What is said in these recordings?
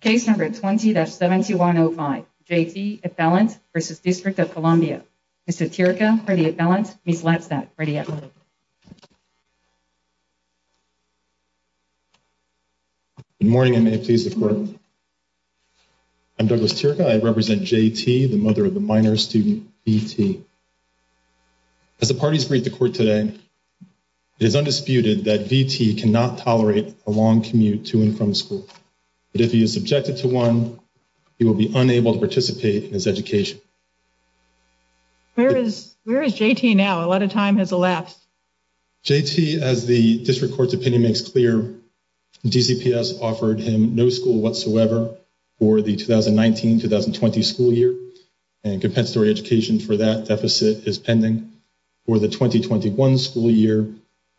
Case number 20-7105, J.T. Ethelant v. District of Columbia. Mr. Tirica, Mr. Ethelant, Ms. Ladstad, ready at work. Good morning and may it please the Court. I'm Douglas Tirica. I represent J.T., the mother of a minor student, V.T. As the parties greet the Court today, it is undisputed that V.T. cannot tolerate a long commute to and from school. If he is subjected to one, he will be unable to participate in his education. Where is J.T. now? A lot of time has elapsed. J.T., as the District Court's opinion makes clear, DCPS offered him no school whatsoever for the 2019-2020 school year, and compensatory education for that deficit is pending. The 2020-2021 school year,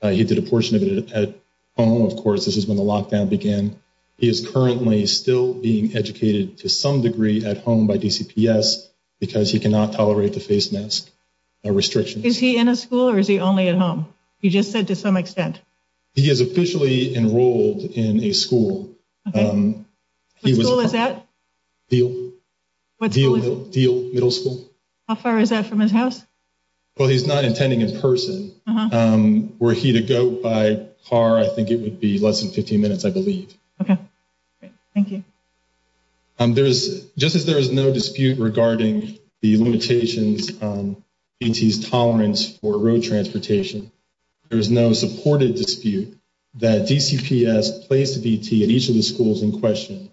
he did a portion of it at home. Of course, this is when the lockdown began. He is currently still being educated to some degree at home by DCPS because he cannot tolerate the face mask restrictions. Is he in a school or is he only at home? He just said to some extent. He is officially enrolled in a school. What school is that? Deal Middle School. How far is that from his house? Well, he's not attending in person. Were he to go by car, I think it would be less than 15 minutes, I believe. Okay, thank you. Just as there is no dispute regarding the limitations on V.T.'s tolerance for road transportation, there is no supported dispute that DCPS placed V.T. at each of the schools in question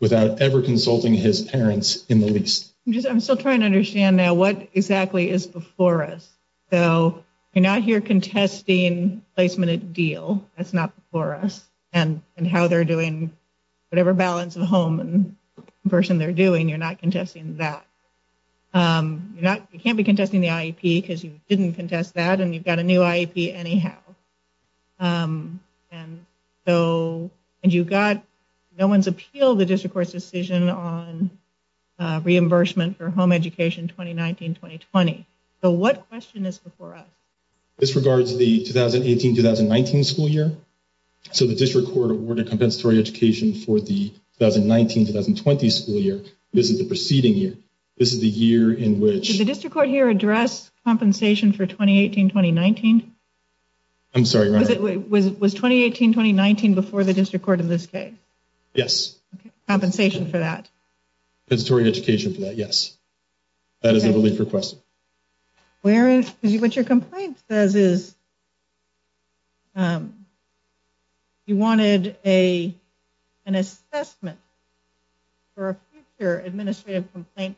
without ever consulting his parents in the least. I'm still trying to understand now what exactly is before us. So you're not here contesting placement at Deal. That's not before us. And how they're doing whatever balance of home and person they're doing, you're not contesting that. You can't be contesting the IEP because you didn't contest that and you've got a new IEP anyhow. No one's appealed the district court's decision on reimbursement for home education 2019-2020. So what question is before us? This regards the 2018-2019 school year. So the district court awarded compensatory education for the 2019-2020 school year. This is the preceding year. This is the year in which... Did the district court here address compensation for 2018-2019? I'm sorry. Was it was 2018-2019 before the district court in this case? Yes. Compensation for that? Compensatory education for that, yes. That is the belief requested. What your complaint says is you wanted an assessment for a future administrative complaint.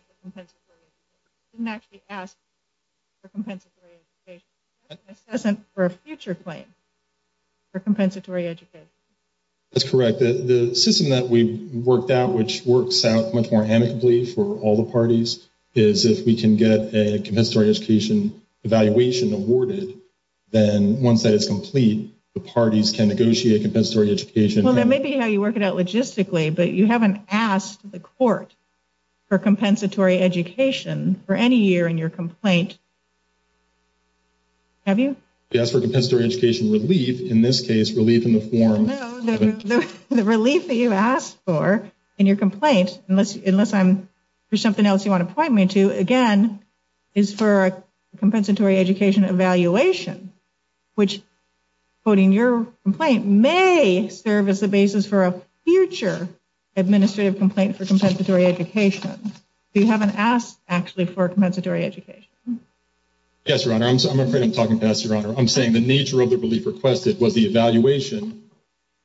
Didn't actually ask for compensatory education. Assessment for a future claim for compensatory education. That's correct. The system that we worked out, which works out much more amicably for all the parties, is if we can get a compensatory education evaluation awarded, then once that is complete, the parties can negotiate compensatory education. Well, that may be how you work it out logistically, but you haven't asked the court for compensatory education for any year in your complaint. Have you? Yes, for compensatory education relief. In this case, relief in the form... The relief that you asked for in your complaint, unless I'm... If there's something else you want to point me to, again, is for a compensatory education evaluation, which, quoting your complaint, may serve as the basis for a future administrative complaint for compensatory education. You haven't asked, actually, for compensatory education. Yes, Your Honor. I'm afraid I'm talking past Your Honor. I'm saying the nature of the belief requested was the evaluation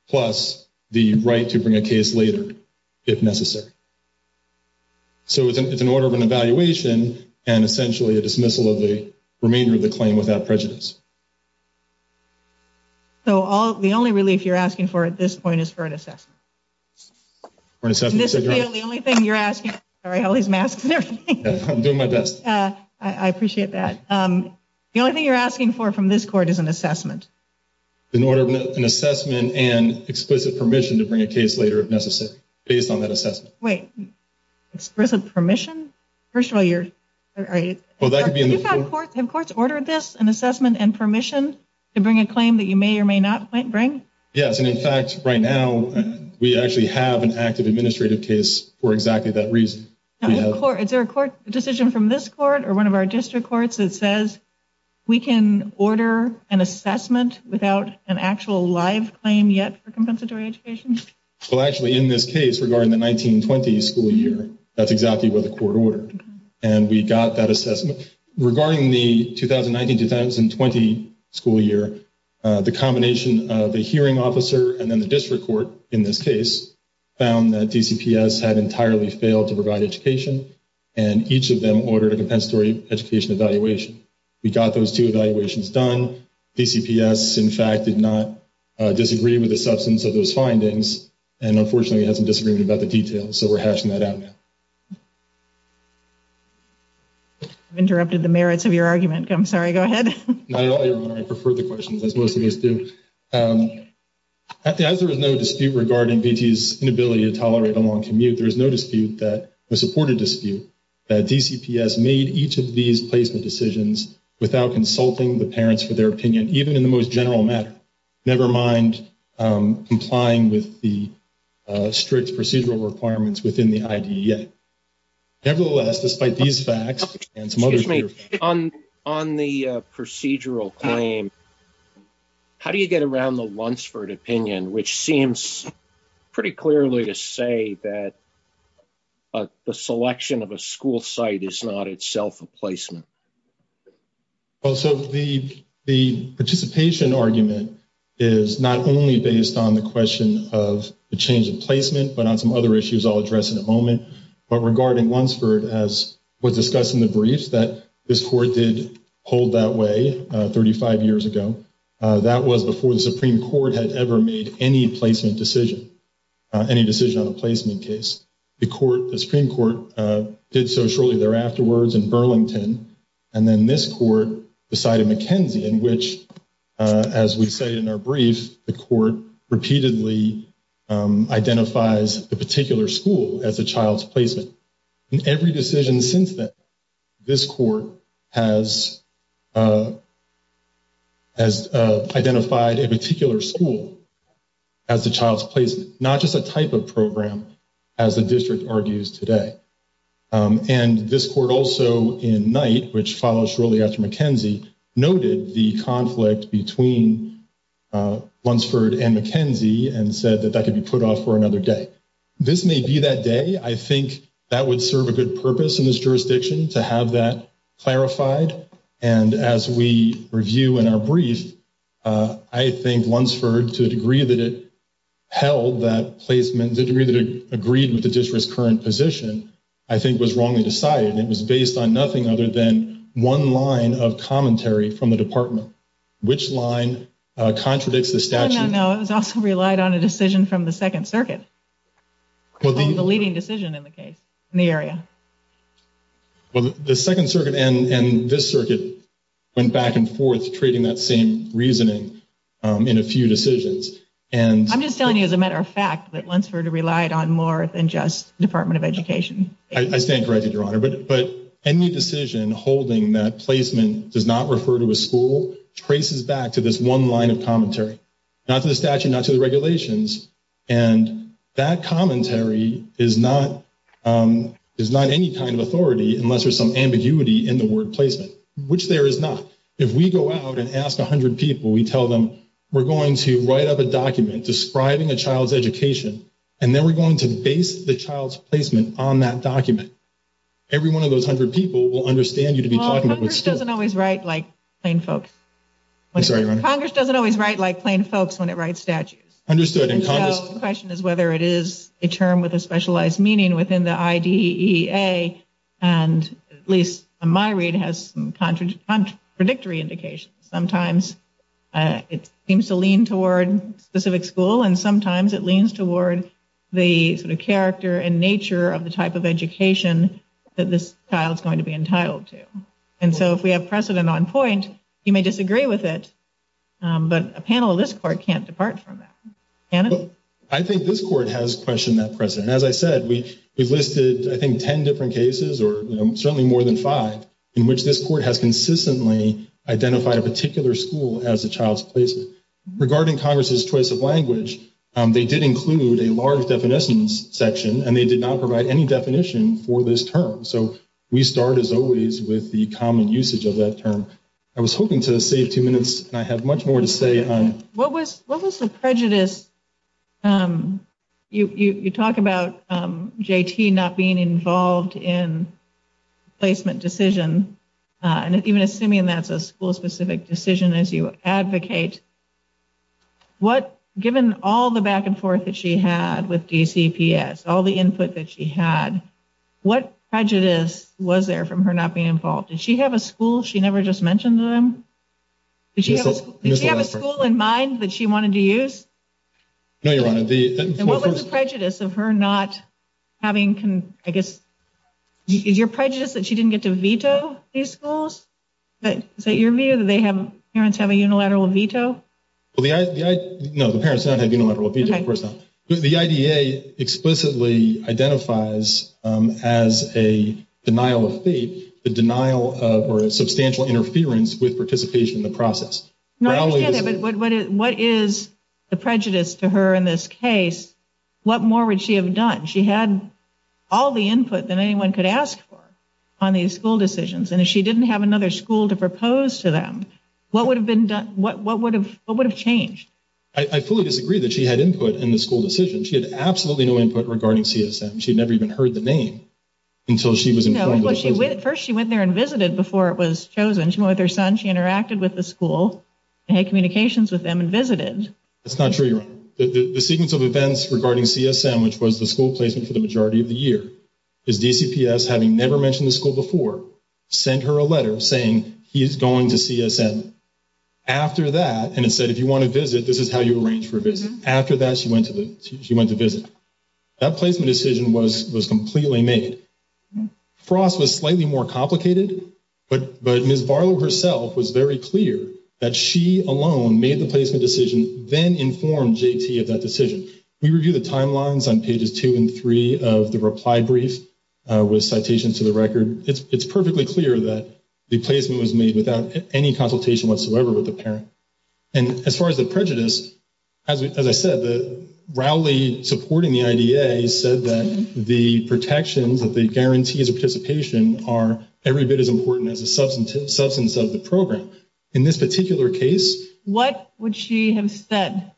plus the right to bring a case later, if necessary. So, it's an order of an evaluation and essentially a dismissal of the remainder of the claim without prejudice. So, the only relief you're asking for at this point is for an assessment? For an assessment. The only thing you're asking... Sorry, all these masks and everything. I'm doing my best. I appreciate that. The only thing you're asking for from this court is an assessment and explicit permission to bring a case later, if necessary, based on that assessment. Wait. Explicit permission? First of all, you're... Have courts ordered this, an assessment and permission to bring a claim that you may or may not bring? Yes, and in fact, right now, we actually have an active administrative case for exactly that reason. Is there a court decision from this court or one of our district courts that says we can order an assessment without an actual live claim yet for compensatory education? Well, actually, in this case, regarding the 19-20 school year, that's exactly what the court ordered and we got that assessment. Regarding the 2019-2020 school year, the combination of the hearing officer and then the district court, in this case, found that DCPS had entirely failed to provide education and each of them ordered a compensatory education evaluation. We got those two evaluations done. DCPS, in fact, did not disagree with the substance of those findings, and unfortunately, we had some disagreement about the details, so we're hashing that out now. I've interrupted the merits of your argument. I'm sorry. Go ahead. Not at all, Your Honor. I prefer the questions, as most of us do. As there is no dispute regarding VT's inability to tolerate a long commute, there is no dispute that... A supported dispute that DCPS made each of these placement decisions without consulting the parents for their opinion, even in the most general matter, never mind complying with the strict procedural requirements within the IDEA. Nevertheless, despite these facts... On the procedural claim, how do you get around the Lunsford opinion, which seems pretty clearly to say that the selection of a school site is not itself a placement? Well, so the participation argument is not only based on the question of the change in placement, but on some other issues I'll address in a moment. But regarding Lunsford as was discussed in the briefs that this court did hold that way 35 years ago, that was before the Supreme Court had ever made any placement decision, any decision on a placement case. The Supreme Court did so shortly there afterwards in Burlington, and then this court decided McKenzie in which, as we say in our brief, the court repeatedly identifies the particular school as a child's placement. In every decision since then, this court has identified a particular school as the child's placement, not just a type of program, as the district argues today. And this court also in Knight, which follows shortly after McKenzie, noted the conflict between Lunsford and McKenzie and said that that could be put off for another day. This may be that day. I think that would serve a good purpose in this jurisdiction to have that clarified. And as we review in our brief, I think Lunsford, to the degree that it I think was wrongly decided, it was based on nothing other than one line of commentary from the department. Which line contradicts the statute? No, it was also relied on a decision from the Second Circuit, the leading decision in the case in the area. Well, the Second Circuit and this circuit went back and forth trading that same reasoning in a few decisions. I'm just telling you as a matter of fact that Lunsford relied on more than just Department of Education. I stand corrected, Your Honor, but any decision holding that placement does not refer to a school traces back to this one line of commentary, not to the statute, not to the regulations. And that commentary is not any kind of authority unless there's some ambiguity in the word placement, which there is not. If we go out and ask 100 people, we tell them we're going to write up a document describing a child's education and then we're going to base the child's placement on that document. Every one of those hundred people will understand you to be talking about school. Well, Congress doesn't always write like plain folks. I'm sorry, Your Honor? Congress doesn't always write like plain folks when it writes statutes. Understood. The question is whether it is a term with a specialized meaning within the IDEA and at least my read has some contradictory indications. Sometimes it seems to lean toward specific school and sometimes it seems to lean toward the type of education that this child is going to be entitled to. And so if we have precedent on point, you may disagree with it, but a panel of this court can't depart from that. I think this court has questioned that precedent. As I said, we've listed, I think, 10 different cases or certainly more than five in which this court has consistently identified a particular school as a child's placement. Regarding Congress's choice of definition for this term. So we start as always with the common usage of that term. I was hoping to save two minutes and I have much more to say. What was the prejudice? You talk about JT not being involved in placement decision and even assuming that's a school specific decision as you advocate. Given all the back and forth that she had with DCPS, all the input that she had, what prejudice was there from her not being involved? Did she have a school she never just mentioned to them? Did she have a school in mind that she wanted to use? No, Your Honor. And what was the prejudice of her not having, I guess, is your prejudice that she didn't get to veto these schools? Is that your view that they have, parents have a unilateral identifies as a denial of fate, the denial of or a substantial interference with participation in the process? What is the prejudice to her in this case? What more would she have done? She had all the input that anyone could ask for on these school decisions. And if she didn't have another school to propose to them, what would have been done? What would have changed? I fully disagree that she had input in the school decision. She had absolutely no input regarding CSM. She'd never even heard the name until she was informed of the decision. First, she went there and visited before it was chosen. She went with her son. She interacted with the school and had communications with them and visited. That's not true, Your Honor. The sequence of events regarding CSM, which was the school placement for the majority of the year, is DCPS having never mentioned the school before, sent her a letter saying he's going to CSM. After that, and it said, if you want to visit, this is how you arrange for a visit. After that, she went to visit. That placement decision was completely made. Frost was slightly more complicated, but Ms. Varlow herself was very clear that she alone made the placement decision, then informed JT of that decision. We review the timelines on pages two and three of the reply brief with citations to the record. It's perfectly clear that the placement was made without any consultation whatsoever with the school. As far as the prejudice, as I said, Rowley, supporting the IDA, said that the protections, that the guarantees of participation are every bit as important as the substance of the program. In this particular case... What would she have said?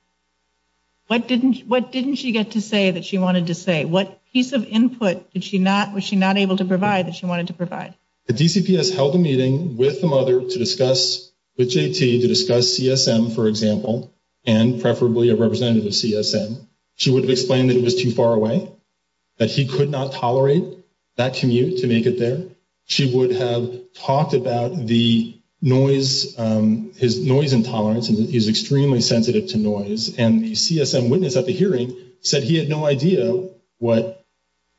What didn't she get to say that she wanted to say? What piece of input was she not able to provide that she wanted to provide? The DCPS held a meeting with the mother to discuss, with JT, to discuss CSM, for example, and preferably a representative of CSM. She would have explained that it was too far away, that he could not tolerate that commute to make it there. She would have talked about the noise, his noise intolerance, and that he's extremely sensitive to noise. And the CSM witness at the hearing said he had no idea what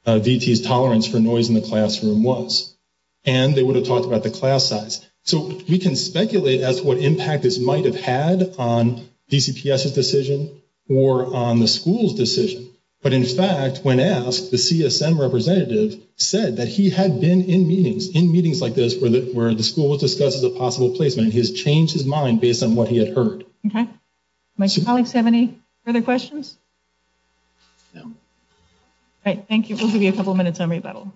VT's tolerance for noise in the classroom was. And they would have talked about the class size. So we can speculate as to what impact this might have had on DCPS's decision or on the school's decision. But in fact, when asked, the CSM representative said that he had been in meetings, in meetings like this, where the school was discussed as a possible placement. He has changed his mind based on what he had heard. Okay. My colleagues have any further questions? No. All right. Thank you. We'll give you a couple minutes on rebuttal.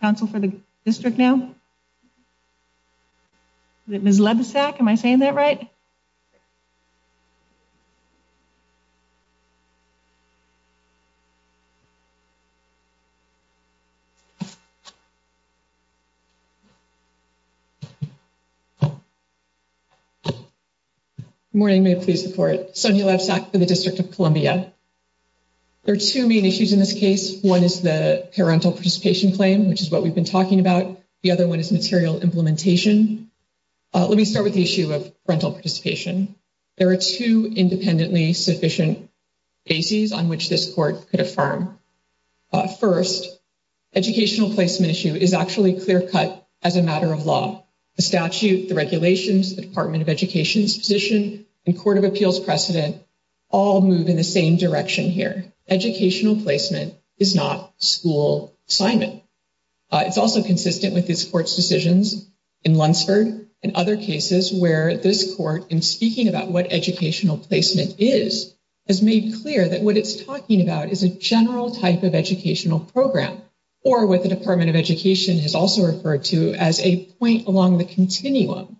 Council for the district now. Ms. Levesack, am I saying that right? Yes, you're correct. Good morning. May it please the court. Sonia Levesack for the District of Columbia. There are two main issues in this case. One is the parental participation claim, which is what we've been talking about. The other one is material implementation. Let me start with the issue of parental participation. There are two independently sufficient bases on which this court could affirm. First, educational placement issue is actually clear-cut as a matter of law. The statute, the regulations, the Department of Education's position, and Court of Appeals precedent all move in the same direction here. Educational placement is not school assignment. It's also consistent with this court's decisions in Lunsford and other cases where this court, in speaking about what educational placement is, has made clear that what it's talking about is a general type of educational program, or what the Department of Education has also referred to as a point along the continuum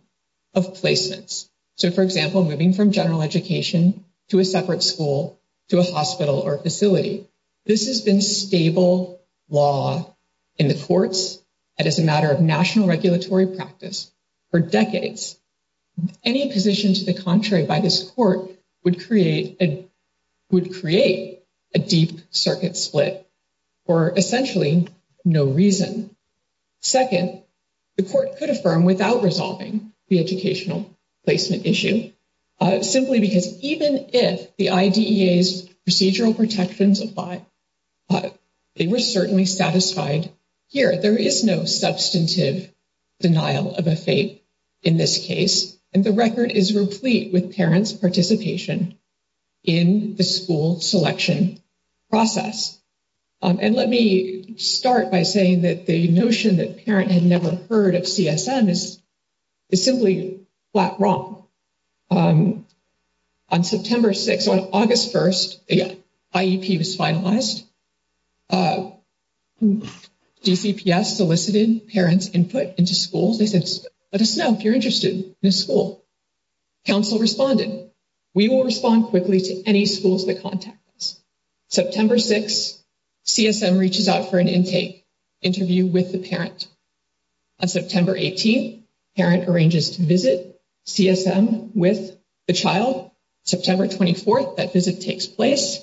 of placements. So, for example, moving from general education to a separate school, to a hospital or facility. This has been stable law in the courts, and as a matter of national regulatory practice, for decades. Any position to the contrary by this court would create a deep circuit split for essentially no reason. Second, the court could affirm without resolving the educational placement issue, simply because even if the IDEA's procedural protections apply, they were certainly satisfied here. There is no substantive denial of a fate in this case, and the record is replete with parents' participation in the school selection process. And let me start by saying that the on September 6, on August 1, the IEP was finalized. DCPS solicited parents' input into schools. They said, let us know if you're interested in a school. Council responded. We will respond quickly to any schools that contact us. September 6, CSM reaches out for an intake interview with the parent. On September 18, parent arranges to visit CSM with the child. September 24, that visit takes place.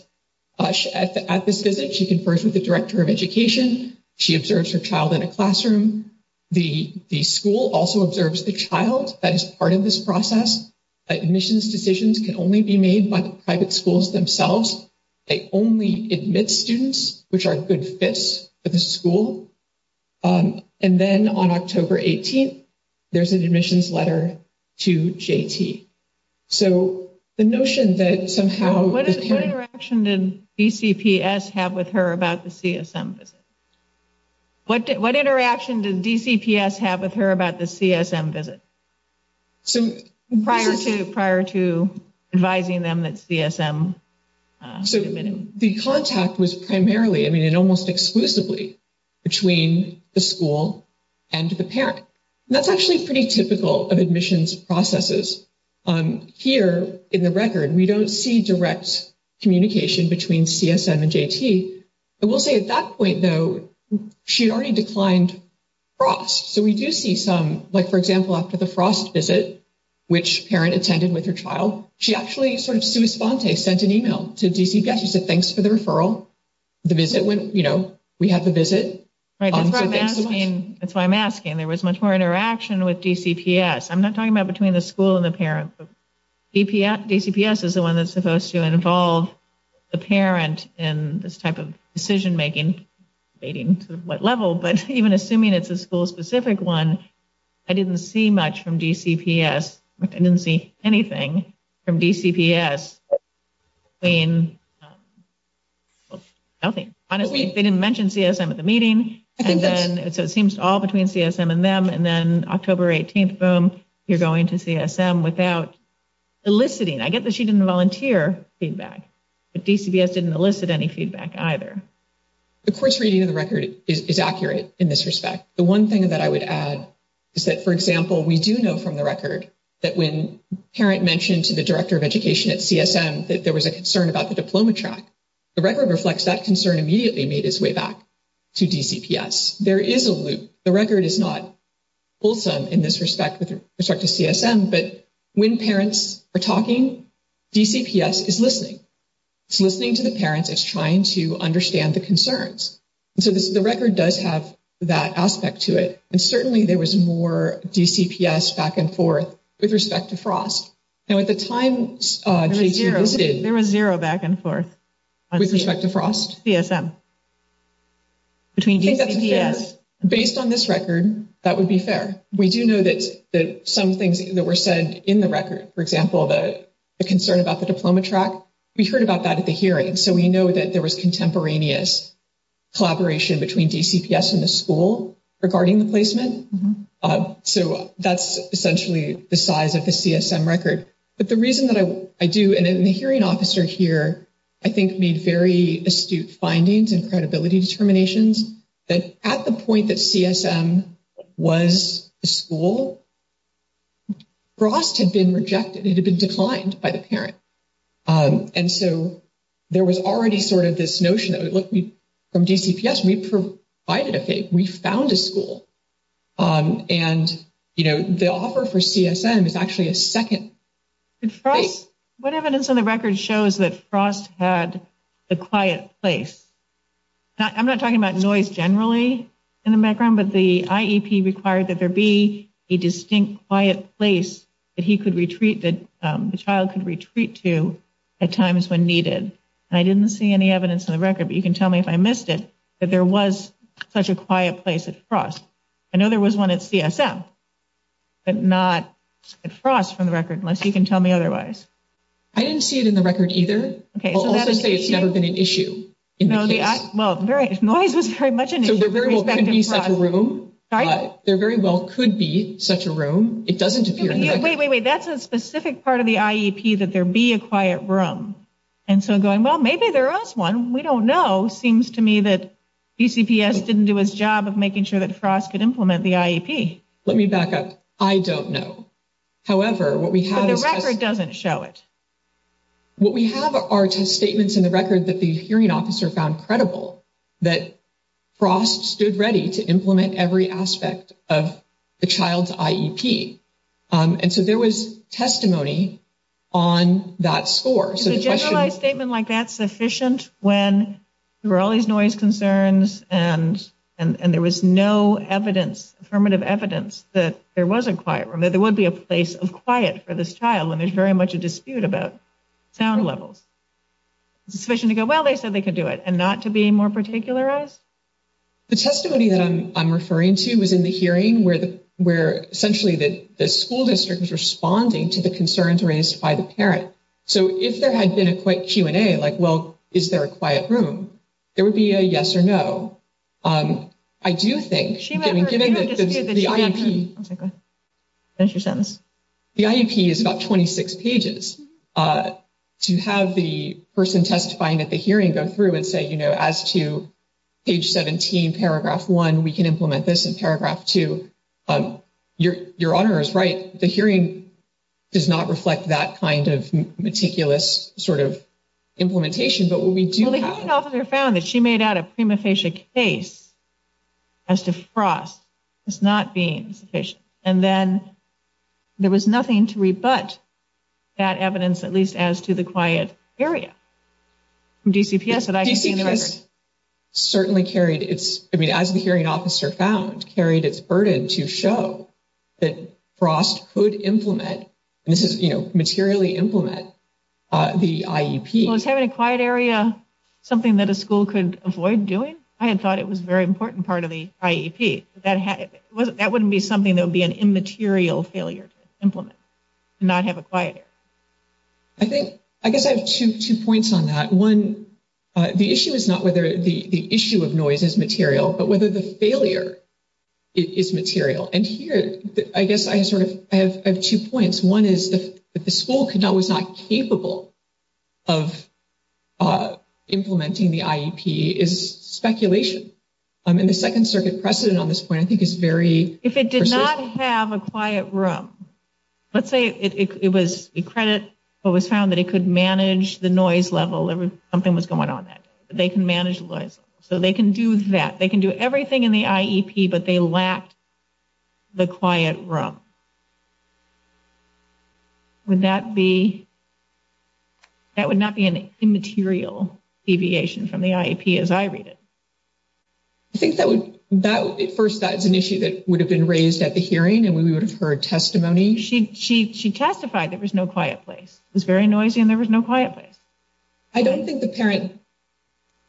At this visit, she confers with the director of education. She observes her child in a classroom. The school also observes the child that is part of this process. Admissions decisions can only be made by the private schools themselves. They only admit students which are good fits for the school. And then on October 18, there's an admissions letter to JT. So the notion that somehow... What interaction did DCPS have with her about the CSM visit? What interaction did DCPS have with her about the CSM visit? Prior to advising them that CSM... So the contact was primarily, I mean, almost exclusively between the school and the parent. That's actually pretty typical of admissions processes. Here in the record, we don't see direct communication between CSM and JT. I will say at that point, though, she already declined FROST. So we do see some, like, for example, after the FROST visit, which parent attended with her child, she actually sort of sui sponte, sent an email to DCPS. She said, thanks for the referral. The visit went, you know, we had the visit. Right. That's why I'm asking. There was much more interaction with DCPS. I'm not talking about between the school and the parent. DCPS is the one that's supposed to involve the parent in this type of decision making, debating to what level. But even assuming it's a school specific one, I didn't see much from DCPS. I didn't see anything from DCPS. Honestly, they didn't mention CSM at the meeting. So it seems all between CSM and them. And then October 18th, boom, you're going to CSM without eliciting. I get that she didn't volunteer feedback, but DCPS didn't elicit any feedback either. The course reading of the record is accurate in this respect. The one thing that I would add is that, for example, we do know from the record that when parent mentioned to the director of education at CSM that there was a concern about the diploma track, the record reflects that concern immediately made its way back to DCPS. There is a loop. The record is not in this respect with respect to CSM, but when parents are talking, DCPS is listening. It's listening to the parents. It's trying to understand the concerns. So the record does have that aspect to it. And certainly there was more DCPS back and forth with respect to FROST. And at the time, there was zero back and forth with respect to FROST. I think that's fair. Based on this record, that would be fair. We do know that some things that were said in the record, for example, the concern about the diploma track, we heard about that at the hearing. So we know that there was contemporaneous collaboration between DCPS and the school regarding the placement. So that's essentially the size of the CSM record. But the hearing officer here, I think, made very astute findings and credibility determinations that at the point that CSM was a school, FROST had been rejected. It had been declined by the parent. And so there was already sort of this notion that, look, from DCPS, we provided a FAPE. We found a school. And, you know, the offer for CSM is actually a second. Did FROST, what evidence on the record shows that FROST had a quiet place? I'm not talking about noise generally in the background, but the IEP required that there be a distinct quiet place that he could retreat, that the child could retreat to at times when needed. And I didn't see any evidence on the record, but you can tell me if I missed it, that there was such a quiet place at FROST. I know there was one at CSM, but not at FROST from the record, unless you can tell me otherwise. I didn't see it in the record either. I'll also say it's never been an issue in the case. Well, noise was very much an issue. There very well could be such a room. It doesn't appear in the record. Wait, wait, wait. That's a specific part of the IEP that there be a quiet room. And so going, well, maybe there was one. We don't know. Seems to me that BCPS didn't do its job of making sure that FROST could implement the IEP. Let me back up. I don't know. However, what we have is... But the record doesn't show it. What we have are test statements in the record that the hearing officer found credible, that FROST stood ready to implement every aspect of the child's IEP. And so there was testimony on that score. Is a generalized statement like that sufficient when there were all these noise concerns and there was no evidence, affirmative evidence, that there was a quiet room, that there would be a place of quiet for this child when there's very much a dispute about sound levels? Is it sufficient to go, well, they said they could do it, and not to be more particularized? The testimony that I'm referring to was in the hearing where essentially the school district was responding to the concerns raised by the parent. So if there had been a quick Q&A, like, well, is there a quiet room? There would be a yes or no. I do think, given that the IEP is about 26 pages. To have the person testifying at the hearing go through and say, you know, as to page 17, paragraph 1, we can implement this in paragraph 2, your honor is right. The hearing does not reflect that kind of meticulous sort of implementation, but what we do have. Well, the hearing officer found that she made out a prima facie case as to FROST as not being sufficient. And then there was nothing to rebut that evidence, at least as to the quiet area. DCPS certainly carried its, I mean, as the hearing found, carried its burden to show that FROST could implement, and this is, you know, materially implement the IEP. Well, is having a quiet area something that a school could avoid doing? I had thought it was a very important part of the IEP. That wouldn't be something that would be an immaterial failure to implement, to not have a quiet area. I think, I guess I have two points on that. One, the issue is not whether the issue of noise is material, but whether the failure is material. And here, I guess I have sort of, I have two points. One is that the school could not, was not capable of implementing the IEP is speculation. And the Second Circuit precedent on this point, I think is very persistent. If it did not have a quiet room, let's say it was, we credit what was found that it could manage the noise level, something was going on that day, they can manage the noise. So they can do that. They can do everything in the IEP, but they lacked the quiet room. Would that be, that would not be an immaterial deviation from the IEP as I read it. I think that would, that would, at first, that is an issue that would have been raised at the place. It was very noisy and there was no quiet place. I don't think the parent,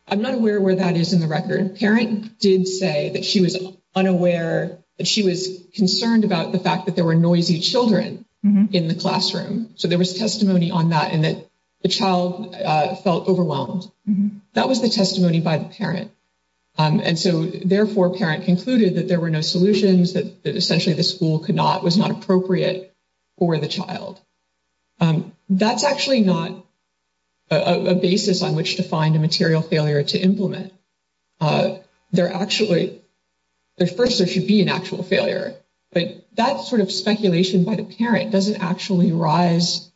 I'm not aware where that is in the record. Parent did say that she was unaware, that she was concerned about the fact that there were noisy children in the classroom. So there was testimony on that and that the child felt overwhelmed. That was the testimony by the parent. And so therefore, parent concluded that there were no solutions, that essentially the school could not, was not appropriate for the child. That's actually not a basis on which to find a material failure to implement. There actually, first there should be an actual failure, but that sort of speculation by the parent doesn't actually rise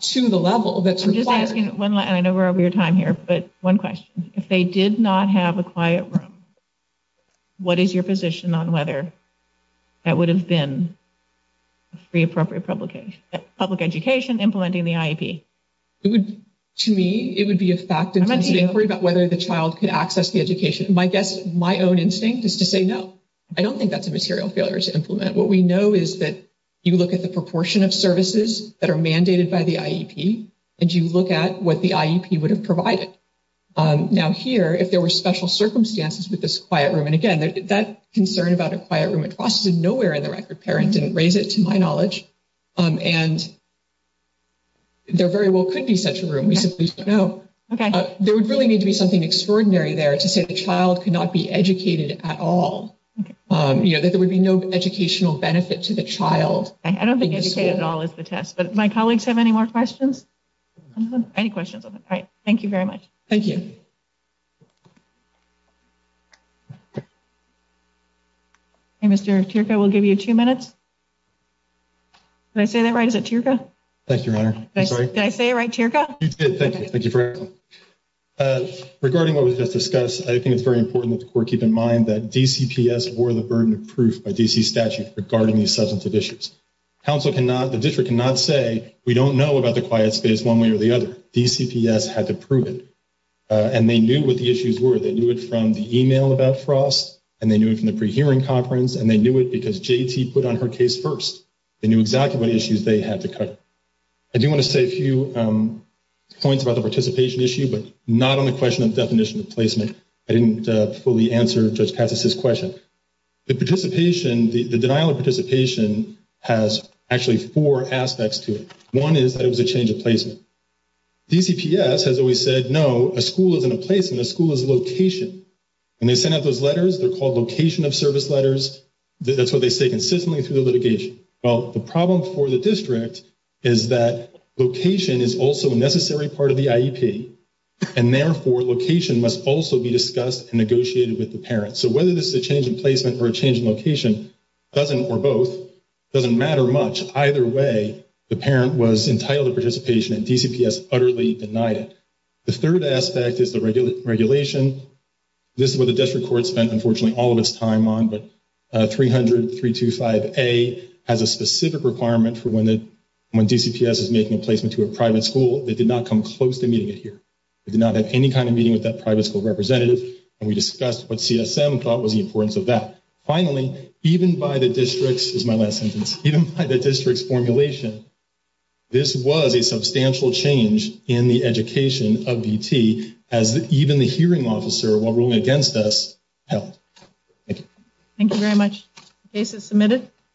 to the level that's required. I'm just asking one, and I know we're over your time here, but one question. If they did not have a quiet room, what is your position on whether that would have been a free appropriate publication, public education implementing the IEP? It would, to me, it would be a fact-intensive inquiry about whether the child could access the education. My guess, my own instinct, is to say no. I don't think that's a material failure to implement. What we know is that you look at the proportion of services that are mandated by the IEP and you look at what the IEP would have provided. Now here, if there were special circumstances with this concern about a quiet room, it was nowhere in the record. The parent didn't raise it, to my knowledge, and there very well could be such a room. We simply don't know. There would really need to be something extraordinary there to say the child could not be educated at all. You know, that there would be no educational benefit to the child. I don't think educated at all is the test, but my colleagues have any more questions? Any questions? All right, thank you very much. Thank you. Okay, Mr. Tierca, we'll give you two minutes. Did I say that right? Is it Tierca? Thank you, Your Honor. I'm sorry? Did I say it right, Tierca? You did, thank you. Thank you for everything. Regarding what was just discussed, I think it's very important that the Court keep in mind that DCPS bore the burden of proof by DC statute regarding these substantive issues. Council cannot, the district cannot say we don't know about the quiet space one way or the other. DCPS had to prove it, and they knew what the issues were. They knew it from the email about FROST, and they knew it from the pre-hearing conference, and they knew it because JT put on her case first. They knew exactly what issues they had to cover. I do want to say a few points about the participation issue, but not on the question of definition of placement. I didn't fully answer Judge Katz's question. The participation, the denial of participation has actually four aspects to it. One is that it was a change of placement. DCPS has always said, no, a school isn't a placement, a school is location. When they send out those letters, they're called location of service letters. That's what they say consistently through the litigation. Well, the problem for the district is that location is also a necessary part of the IEP, and therefore, location must also be discussed and negotiated with the parent. So whether this is a change in placement or a change in location, doesn't, or both, doesn't matter much. Either way, the parent was entitled to participation, and DCPS utterly denied it. The third aspect is the regulation. This is what the district court spent, unfortunately, all of its time on, but 300.325a has a specific requirement for when DCPS is making a placement to a private school. They did not come close to meeting it here. They did not have any kind of meeting with that private school representative, and we discussed what CSM thought was the importance of that. Finally, even by the district's, this is my last sentence, even by the district's this was a substantial change in the education of VT, as even the hearing officer while ruling against us held. Thank you. Thank you very much. Case is submitted.